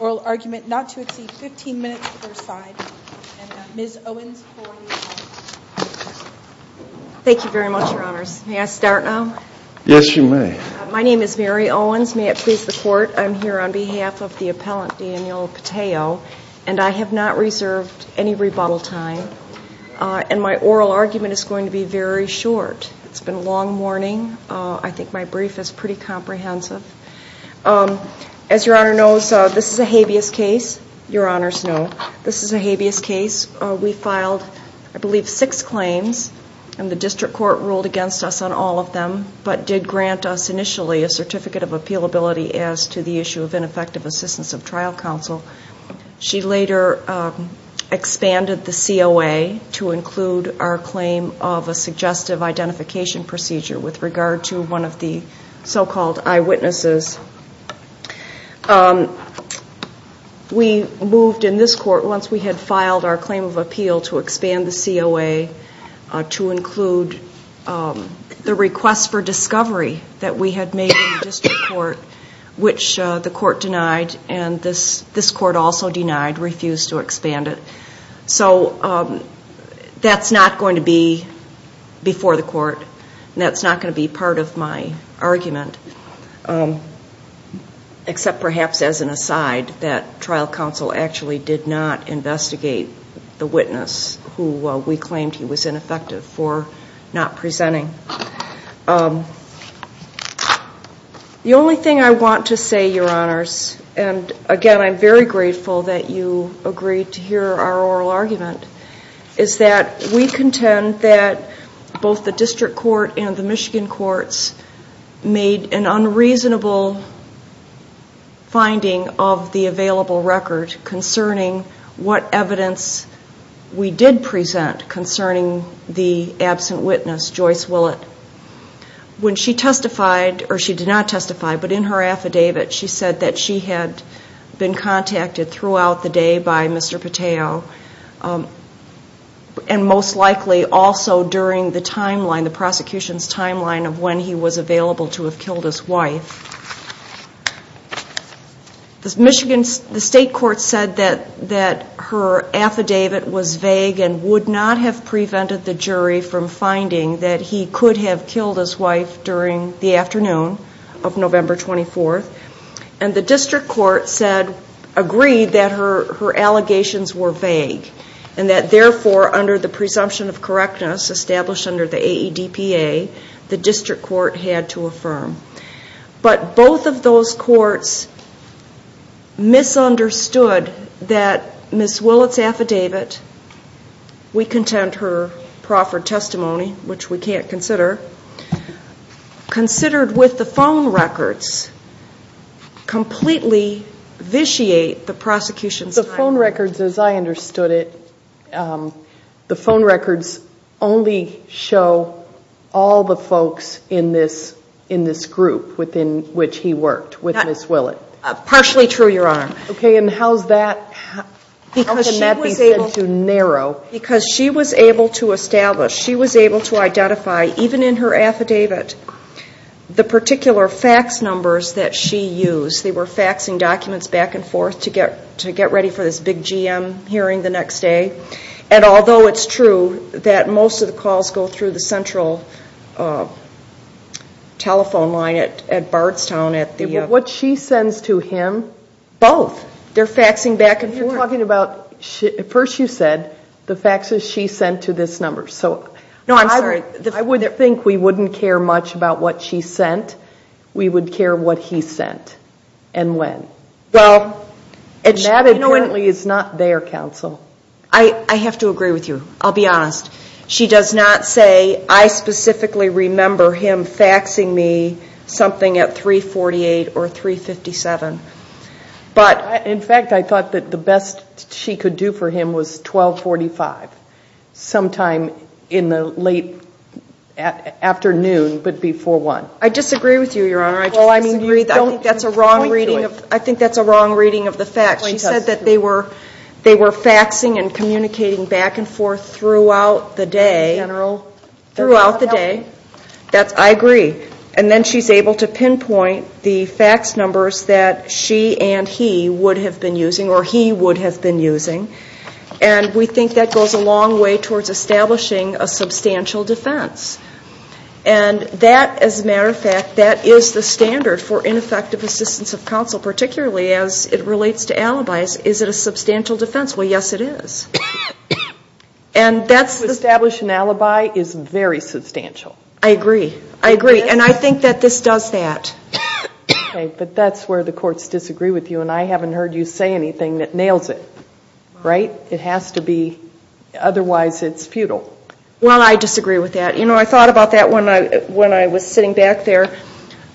oral argument not to exceed 15 minutes per side and Ms. Owens for the appellant. Thank you very much, your honors. May I start now? Yes, you may. My name is Mary Owens. May it please the court. I'm here on behalf of the appellant, Daniel Pittao, and I have not reserved any rebuttal time. And my oral argument is going to be very short. It's been a long morning. I think my brief is pretty comprehensive. As your honor knows, this is a habeas case. Your honors know this is a habeas case. We filed, I believe, six claims and the district court ruled against us on all of them, but did grant us initially a certificate of appealability as to the issue of ineffective assistance of trial counsel. She later expanded the COA to include our claim of a suggestive identification procedure with regard to one of the so-called eyewitnesses. We moved in this court, once we had filed our claim of appeal, to expand the COA to include the request for discovery that we had made in the district court, which the court denied and this court also denied, refused to expand it. So that's not going to be before the court and that's not going to be part of my argument, except perhaps as an aside that trial counsel actually did not investigate the witness who we claimed he was ineffective for not presenting. The only thing I want to say, your honors, and again I'm very grateful that you agreed to hear our oral argument, is that we contend that both the district court and the Michigan courts made an unreasonable finding of the available record concerning what evidence we did present concerning the absent witness, Joyce Willis. When she testified, or she did not testify, but in her affidavit she said that she had been contacted throughout the day by Mr. Pateo and most likely also during the timeline, the prosecution's timeline of when he was available to have killed his wife. The state court said that her affidavit was vague and would not have prevented the jury from finding that he could have killed his wife during the afternoon of November 24th and the district court agreed that her allegations were vague and that therefore under the presumption of correctness established under the AEDPA, the district court had to affirm. But both of those courts misunderstood that Ms. Willis' affidavit, we contend her proffered testimony, which we can't consider, considered with the phone records completely vitiate the prosecution's timeline. The phone records, as I understood it, the phone records only show all the folks in this group within which he worked with Ms. Willis. Partially true, Your Honor. Okay, and how's that? How can that be said to narrow? Because she was able to establish, she was able to identify, even in her affidavit, the particular fax numbers that she used. They were faxing documents back and forth to get ready for this big GM hearing the next day. And although it's true that most of the calls go through the central telephone line at Bardstown at the... What she sends to him... Both. They're faxing back and forth. First you said the faxes she sent to this number. No, I'm sorry. I would think we wouldn't care much about what she sent. We would care what he sent and when. Well... And that is not their counsel. I have to agree with you. I'll be honest. She does not say, I specifically remember him faxing me something at 348 or 357. In fact, I thought that the best she could do for him was 1245, sometime in the late afternoon, but before 1. I disagree with you, Your Honor. I think that's a wrong reading of the fax. She said that they were faxing and communicating back and forth throughout the day. General telephone. I agree. And then she's able to pinpoint the fax numbers that she and he would have been using, or he would have been using. And we think that goes a long way towards establishing a substantial defense. And that, as a matter of fact, that is the standard for ineffective assistance of counsel, particularly as it relates to alibis. Is it a substantial defense? Well, yes, it is. And that's the... To establish an alibi is very substantial. I agree. I agree. And I think that this does that. Okay, but that's where the courts disagree with you, and I haven't heard you say anything that nails it. Right? It has to be, otherwise it's futile. Well, I disagree with that. You know, I thought about that when I was sitting back there.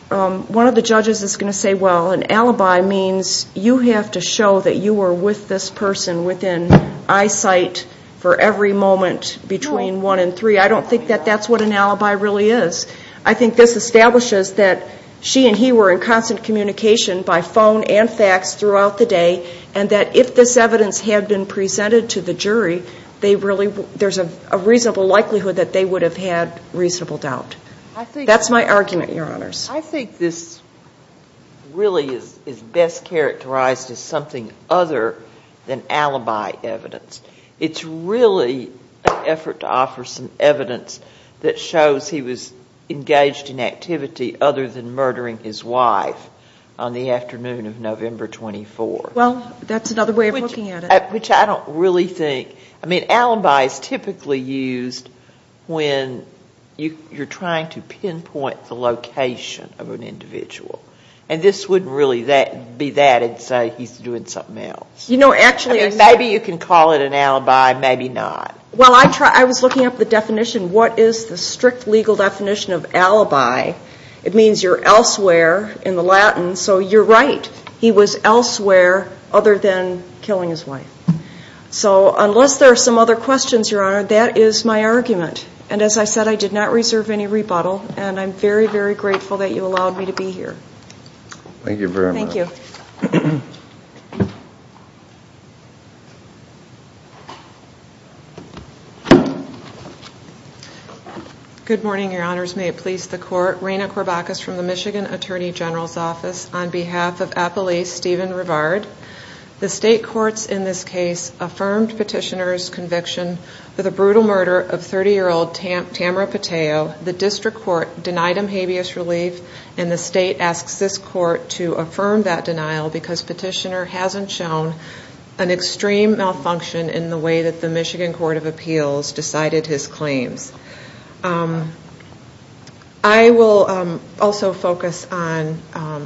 One of the judges is going to say, well, an alibi means you have to show that you were with this person within eyesight for every moment between 1 and 3. I don't think that that's what an alibi really is. I think this establishes that she and he were in constant communication by phone and fax throughout the day, and that if this evidence had been presented to the jury, there's a reasonable likelihood that they would have had reasonable doubt. That's my argument, Your Honors. I think this really is best characterized as something other than alibi evidence. It's really an effort to offer some evidence that shows he was engaged in activity other than murdering his wife on the afternoon of November 24th. Well, that's another way of looking at it. Which I don't really think, I mean, alibi is typically used when you're trying to pinpoint the location of an individual. And this wouldn't really be that and say he's doing something else. Maybe you can call it an alibi, maybe not. Well, I was looking up the definition. What is the strict legal definition of alibi? It means you're elsewhere in the Latin, so you're right. He was elsewhere other than killing his wife. So unless there are some other questions, Your Honor, that is my argument. And as I said, I did not reserve any rebuttal, and I'm very, very grateful that you allowed me to be here. Thank you very much. Thank you. Thank you. Good morning, Your Honors. May it please the Court. Reyna Corbacus from the Michigan Attorney General's Office on behalf of Appalachian Stephen Rivard. The state courts in this case affirmed petitioner's conviction for the brutal murder of 30-year-old Tamara Pateo. The district court denied him habeas relief, and the state asks this court to affirm that denial because petitioner hasn't shown an extreme malfunction in the way that the Michigan Court of Appeals decided his claims. I will also focus on,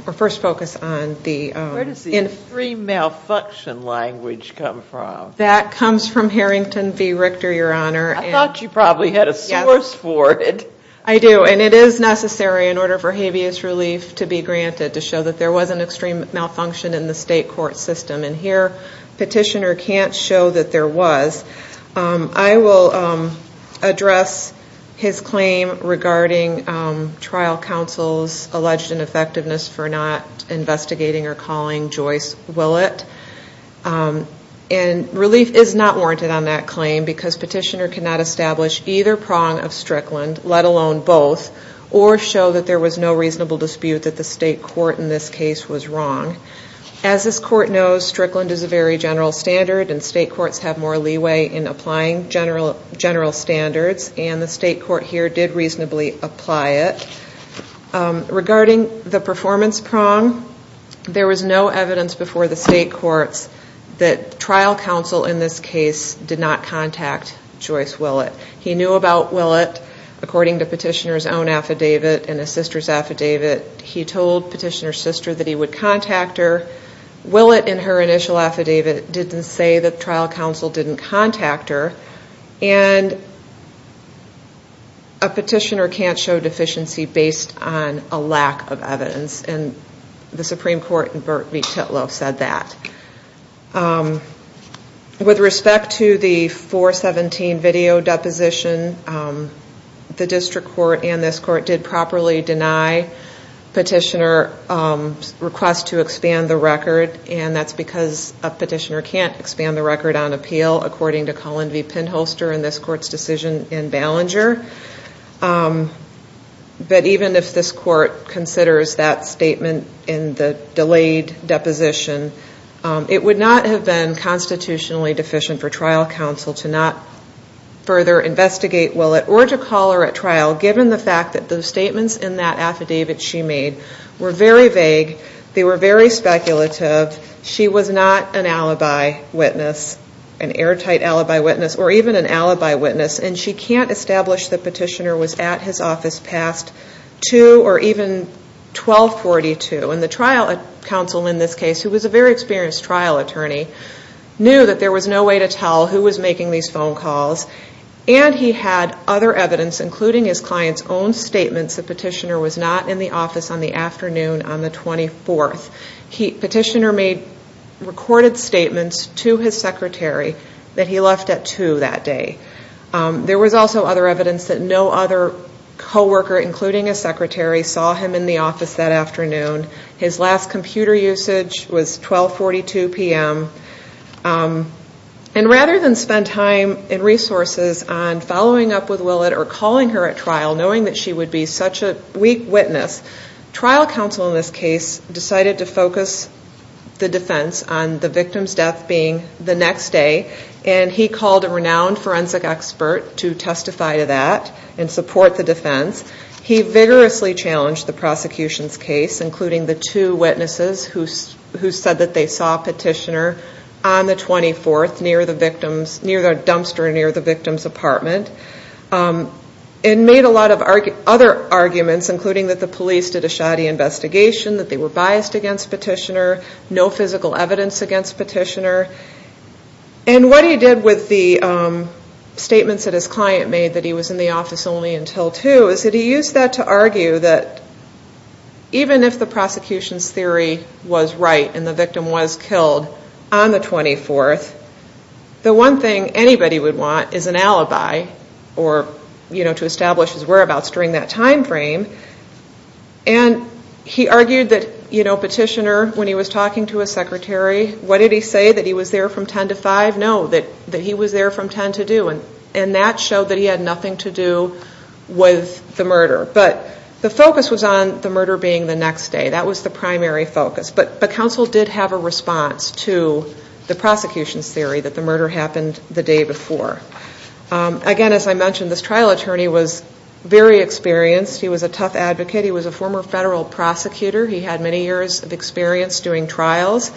or first focus on the- Where does the extreme malfunction language come from? That comes from Harrington v. Richter, Your Honor. I thought you probably had a source for it. I do, and it is necessary in order for habeas relief to be granted to show that there was an extreme malfunction in the state court system. And here, petitioner can't show that there was. I will address his claim regarding trial counsel's alleged ineffectiveness for not investigating or calling Joyce Willett. Relief is not warranted on that claim because petitioner cannot establish either prong of Strickland, let alone both, or show that there was no reasonable dispute that the state court in this case was wrong. As this court knows, Strickland is a very general standard, and state courts have more leeway in applying general standards, and the state court here did reasonably apply it. Regarding the performance prong, there was no evidence before the state courts that trial counsel in this case did not contact Joyce Willett. He knew about Willett according to petitioner's own affidavit and his sister's affidavit. He told petitioner's sister that he would contact her. Willett in her initial affidavit didn't say that trial counsel didn't contact her, and a petitioner can't show deficiency based on a lack of evidence, and the Supreme Court in Burt v. Titlow said that. With respect to the 417 video deposition, the district court and this court did properly deny petitioner's request to expand the record, and that's because a petitioner can't expand the record on appeal according to Colin v. Penholster in this court's decision in Ballinger. But even if this court considers that statement in the delayed deposition, it would not have been constitutionally deficient for trial counsel to not further investigate Willett, or to call her at trial given the fact that the statements in that affidavit she made were very vague. They were very speculative. She was not an alibi witness, an airtight alibi witness, or even an alibi witness, and she can't establish that petitioner was at his office past 2 or even 1242. And the trial counsel in this case, who was a very experienced trial attorney, knew that there was no way to tell who was making these phone calls, and he had other evidence, including his client's own statements, that petitioner was not in the office on the afternoon on the 24th. Petitioner made recorded statements to his secretary that he left at 2 that day. There was also other evidence that no other co-worker, including his secretary, saw him in the office that afternoon. His last computer usage was 1242 p.m. And rather than spend time and resources on following up with Willett or calling her at trial, knowing that she would be such a weak witness, trial counsel in this case decided to focus the defense on the victim's death being the next day, and he called a renowned forensic expert to testify to that and support the defense. He vigorously challenged the prosecution's case, including the two witnesses who said that they saw petitioner on the 24th, near the dumpster near the victim's apartment, and made a lot of other arguments, including that the police did a shoddy investigation, that they were biased against petitioner, no physical evidence against petitioner. And what he did with the statements that his client made that he was in the office only until 2 is that he used that to argue that even if the prosecution's theory was right and the victim was killed on the 24th, the one thing anybody would want is an alibi to establish his whereabouts during that time frame. And he argued that petitioner, when he was talking to his secretary, what did he say, that he was there from 10 to 5? No, that he was there from 10 to 2, and that showed that he had nothing to do with the murder. But the focus was on the murder being the next day. That was the primary focus. But counsel did have a response to the prosecution's theory that the murder happened the day before. Again, as I mentioned, this trial attorney was very experienced. He was a tough advocate. He was a former federal prosecutor. He had many years of experience doing trials.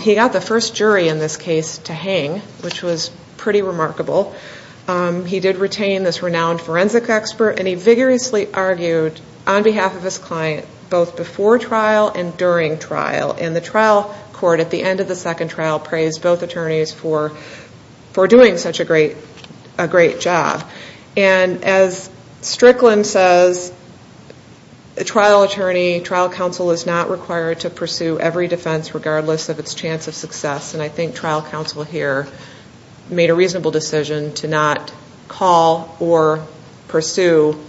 He got the first jury in this case to hang, which was pretty remarkable. He did retain this renowned forensic expert, and he vigorously argued on behalf of his client both before trial and during trial. And the trial court at the end of the second trial praised both attorneys for doing such a great job. And as Strickland says, a trial attorney, trial counsel is not required to pursue every defense regardless of its chance of success. And I think trial counsel here made a reasonable decision to not call or pursue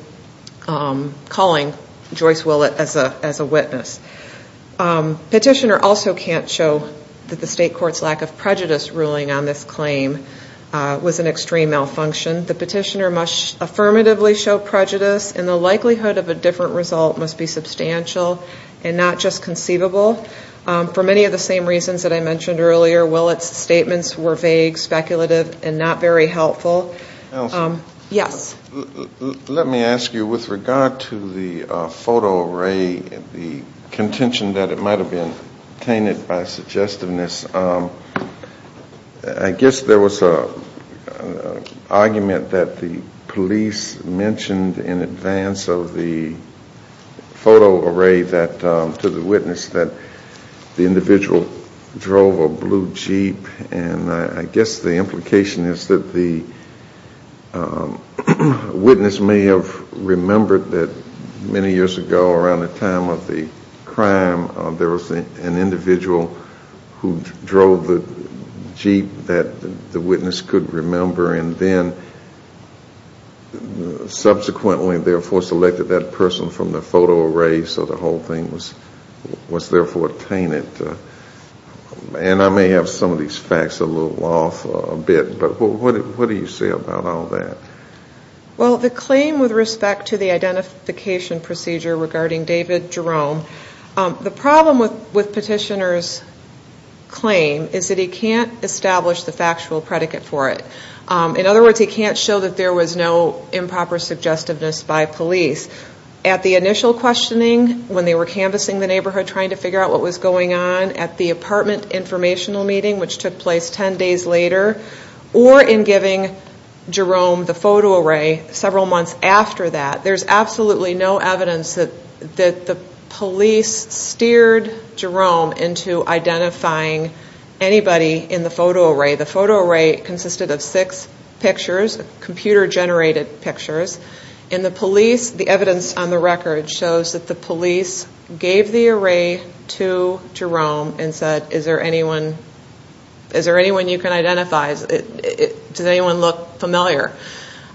calling Joyce Willett as a witness. Petitioner also can't show that the state court's lack of prejudice ruling on this claim was an extreme malfunction. The petitioner must affirmatively show prejudice, and the likelihood of a different result must be substantial and not just conceivable. For many of the same reasons that I mentioned earlier, Willett's statements were vague, speculative, and not very helpful. Yes? Let me ask you, with regard to the photo array, the contention that it might have been obtained by suggestiveness, I guess there was an argument that the police mentioned in advance of the photo array to the witness that the individual drove a blue Jeep. And I guess the implication is that the witness may have remembered that many years ago around the time of the crime, there was an individual who drove the Jeep that the witness could remember, and then subsequently therefore selected that person from the photo array so the whole thing was therefore obtained. And I may have some of these facts a little off a bit, but what do you say about all that? Well, the claim with respect to the identification procedure regarding David Jerome, the problem with petitioner's claim is that he can't establish the factual predicate for it. In other words, he can't show that there was no improper suggestiveness by police. At the initial questioning, when they were canvassing the neighborhood trying to figure out what was going on, at the apartment informational meeting, which took place ten days later, or in giving Jerome the photo array several months after that, there's absolutely no evidence that the police steered Jerome into identifying anybody in the photo array. The photo array consisted of six pictures, computer-generated pictures, and the police, the evidence on the record shows that the police gave the array to Jerome and said, is there anyone you can identify? Does anyone look familiar?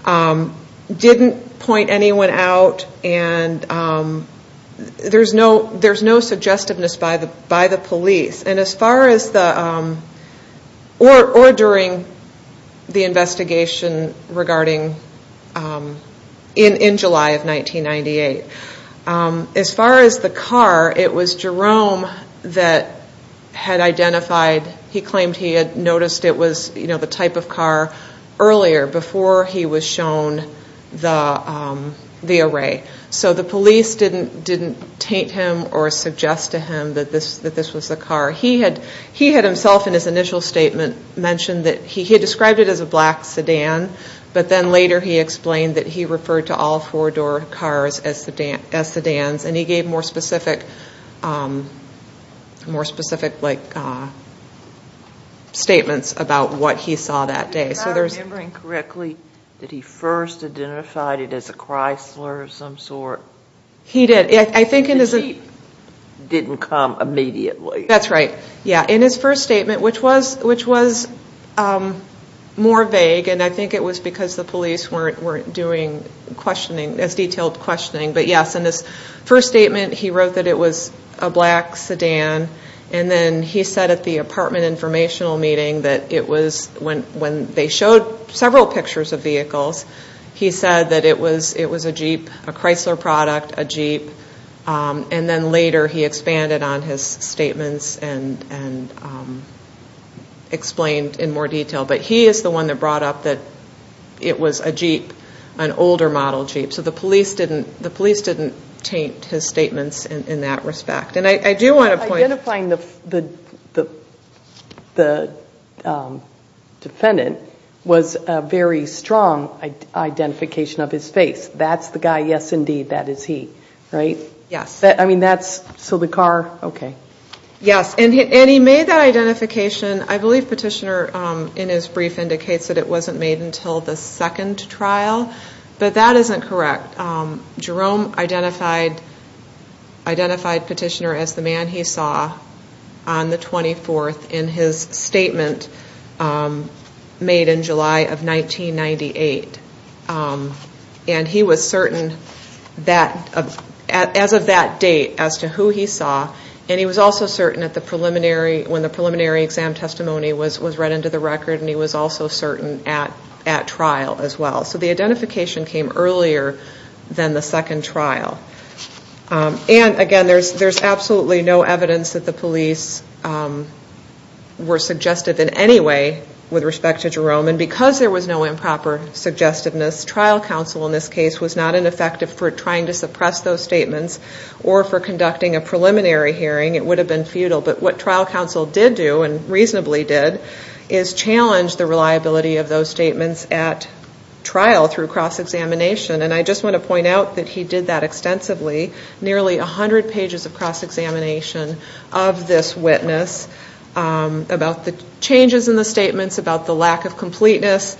Didn't point anyone out, and there's no suggestiveness by the police. And as far as the, or during the investigation regarding, in July of 1998, as far as the car, it was Jerome that had identified, he claimed he had noticed it was the type of car earlier, before he was shown the array. So the police didn't taint him or suggest to him that this was the car. He had himself, in his initial statement, mentioned that he had described it as a black sedan, but then later he explained that he referred to all four-door cars as sedans, and he gave more specific statements about what he saw that day. If I'm remembering correctly, did he first identify it as a Chrysler of some sort? He did. I think in his... The Jeep didn't come immediately. That's right, yeah. In his first statement, which was more vague, and I think it was because the police weren't doing questioning, as detailed questioning, but yes, in his first statement he wrote that it was a black sedan, and then he said at the apartment informational meeting that it was, when they showed several pictures of vehicles, he said that it was a Jeep, a Chrysler product, a Jeep, and then later he expanded on his statements and explained in more detail. But he is the one that brought up that it was a Jeep, an older model Jeep. So the police didn't taint his statements in that respect. Identifying the defendant was a very strong identification of his face. That's the guy, yes indeed, that is he, right? Yes. So the car, okay. Yes, and he made that identification. I believe Petitioner, in his brief, indicates that it wasn't made until the second trial, but that isn't correct. Jerome identified Petitioner as the man he saw on the 24th in his statement made in July of 1998, and he was certain as of that date as to who he saw, and he was also certain when the preliminary exam testimony was read into the record, and he was also certain at trial as well. So the identification came earlier than the second trial. And, again, there's absolutely no evidence that the police were suggestive in any way with respect to Jerome, and because there was no improper suggestiveness, trial counsel in this case was not ineffective for trying to suppress those statements or for conducting a preliminary hearing. It would have been futile. But what trial counsel did do, and reasonably did, is challenge the reliability of those statements at trial through cross-examination, and I just want to point out that he did that extensively, nearly 100 pages of cross-examination of this witness about the changes in the statements, about the lack of completeness,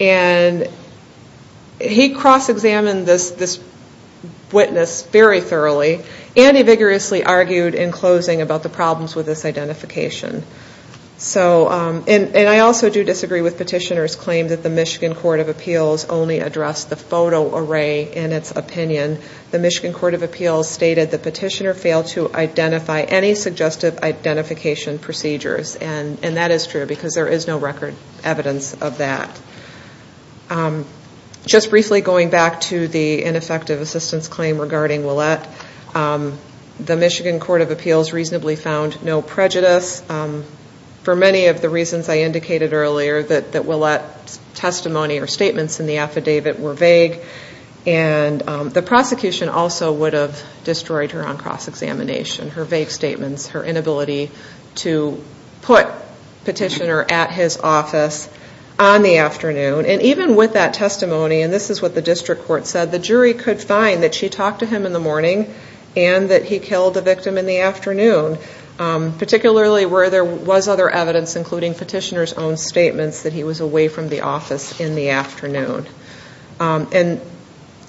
and he cross-examined this witness very thoroughly, and he vigorously argued in closing about the problems with this identification. And I also do disagree with Petitioner's claim that the Michigan Court of Appeals only addressed the photo array in its opinion. The Michigan Court of Appeals stated that Petitioner failed to identify any suggestive identification procedures, and that is true because there is no record evidence of that. Just briefly going back to the ineffective assistance claim regarding Ouellette, the Michigan Court of Appeals reasonably found no prejudice for many of the reasons I indicated earlier, that Ouellette's testimony or statements in the affidavit were vague, and the prosecution also would have destroyed her on cross-examination, her vague statements, her inability to put Petitioner at his office on the afternoon. And even with that testimony, and this is what the district court said, the jury could find that she talked to him in the morning and that he killed the victim in the afternoon, particularly where there was other evidence, including Petitioner's own statements, that he was away from the office in the afternoon. And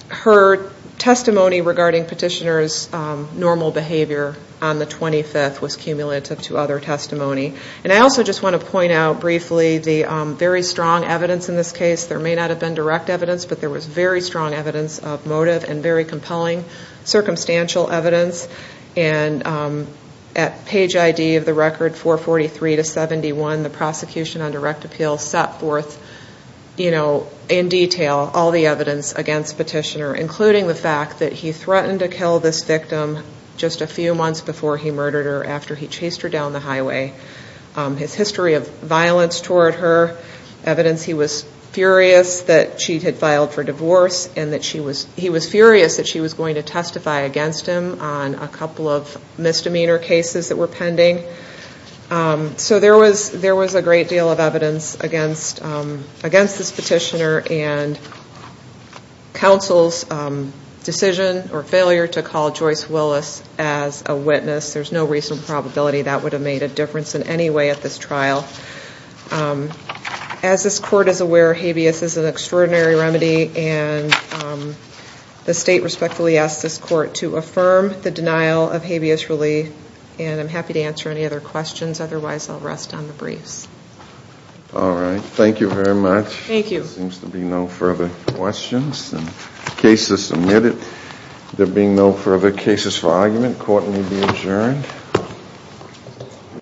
her testimony regarding Petitioner's normal behavior on the 25th was cumulative to other testimony. And I also just want to point out briefly the very strong evidence in this case. There may not have been direct evidence, but there was very strong evidence of motive and very compelling circumstantial evidence. And at page ID of the record 443 to 71, the prosecution on direct appeal set forth, you know, in detail all the evidence against Petitioner, including the fact that he threatened to kill this victim just a few months before he murdered her, after he chased her down the highway. His history of violence toward her, evidence he was furious that she had filed for divorce, and that he was furious that she was going to testify against him on a couple of misdemeanor cases that were pending. So there was a great deal of evidence against this Petitioner, and counsel's decision or failure to call Joyce Willis as a witness, there's no reasonable probability that would have made a difference in any way at this trial. As this court is aware, habeas is an extraordinary remedy, and the state respectfully asks this court to affirm the denial of habeas relief, and I'm happy to answer any other questions, otherwise I'll rest on the briefs. All right. Thank you very much. Thank you. There seems to be no further questions. The case is submitted. There being no further cases for argument, court may be adjourned.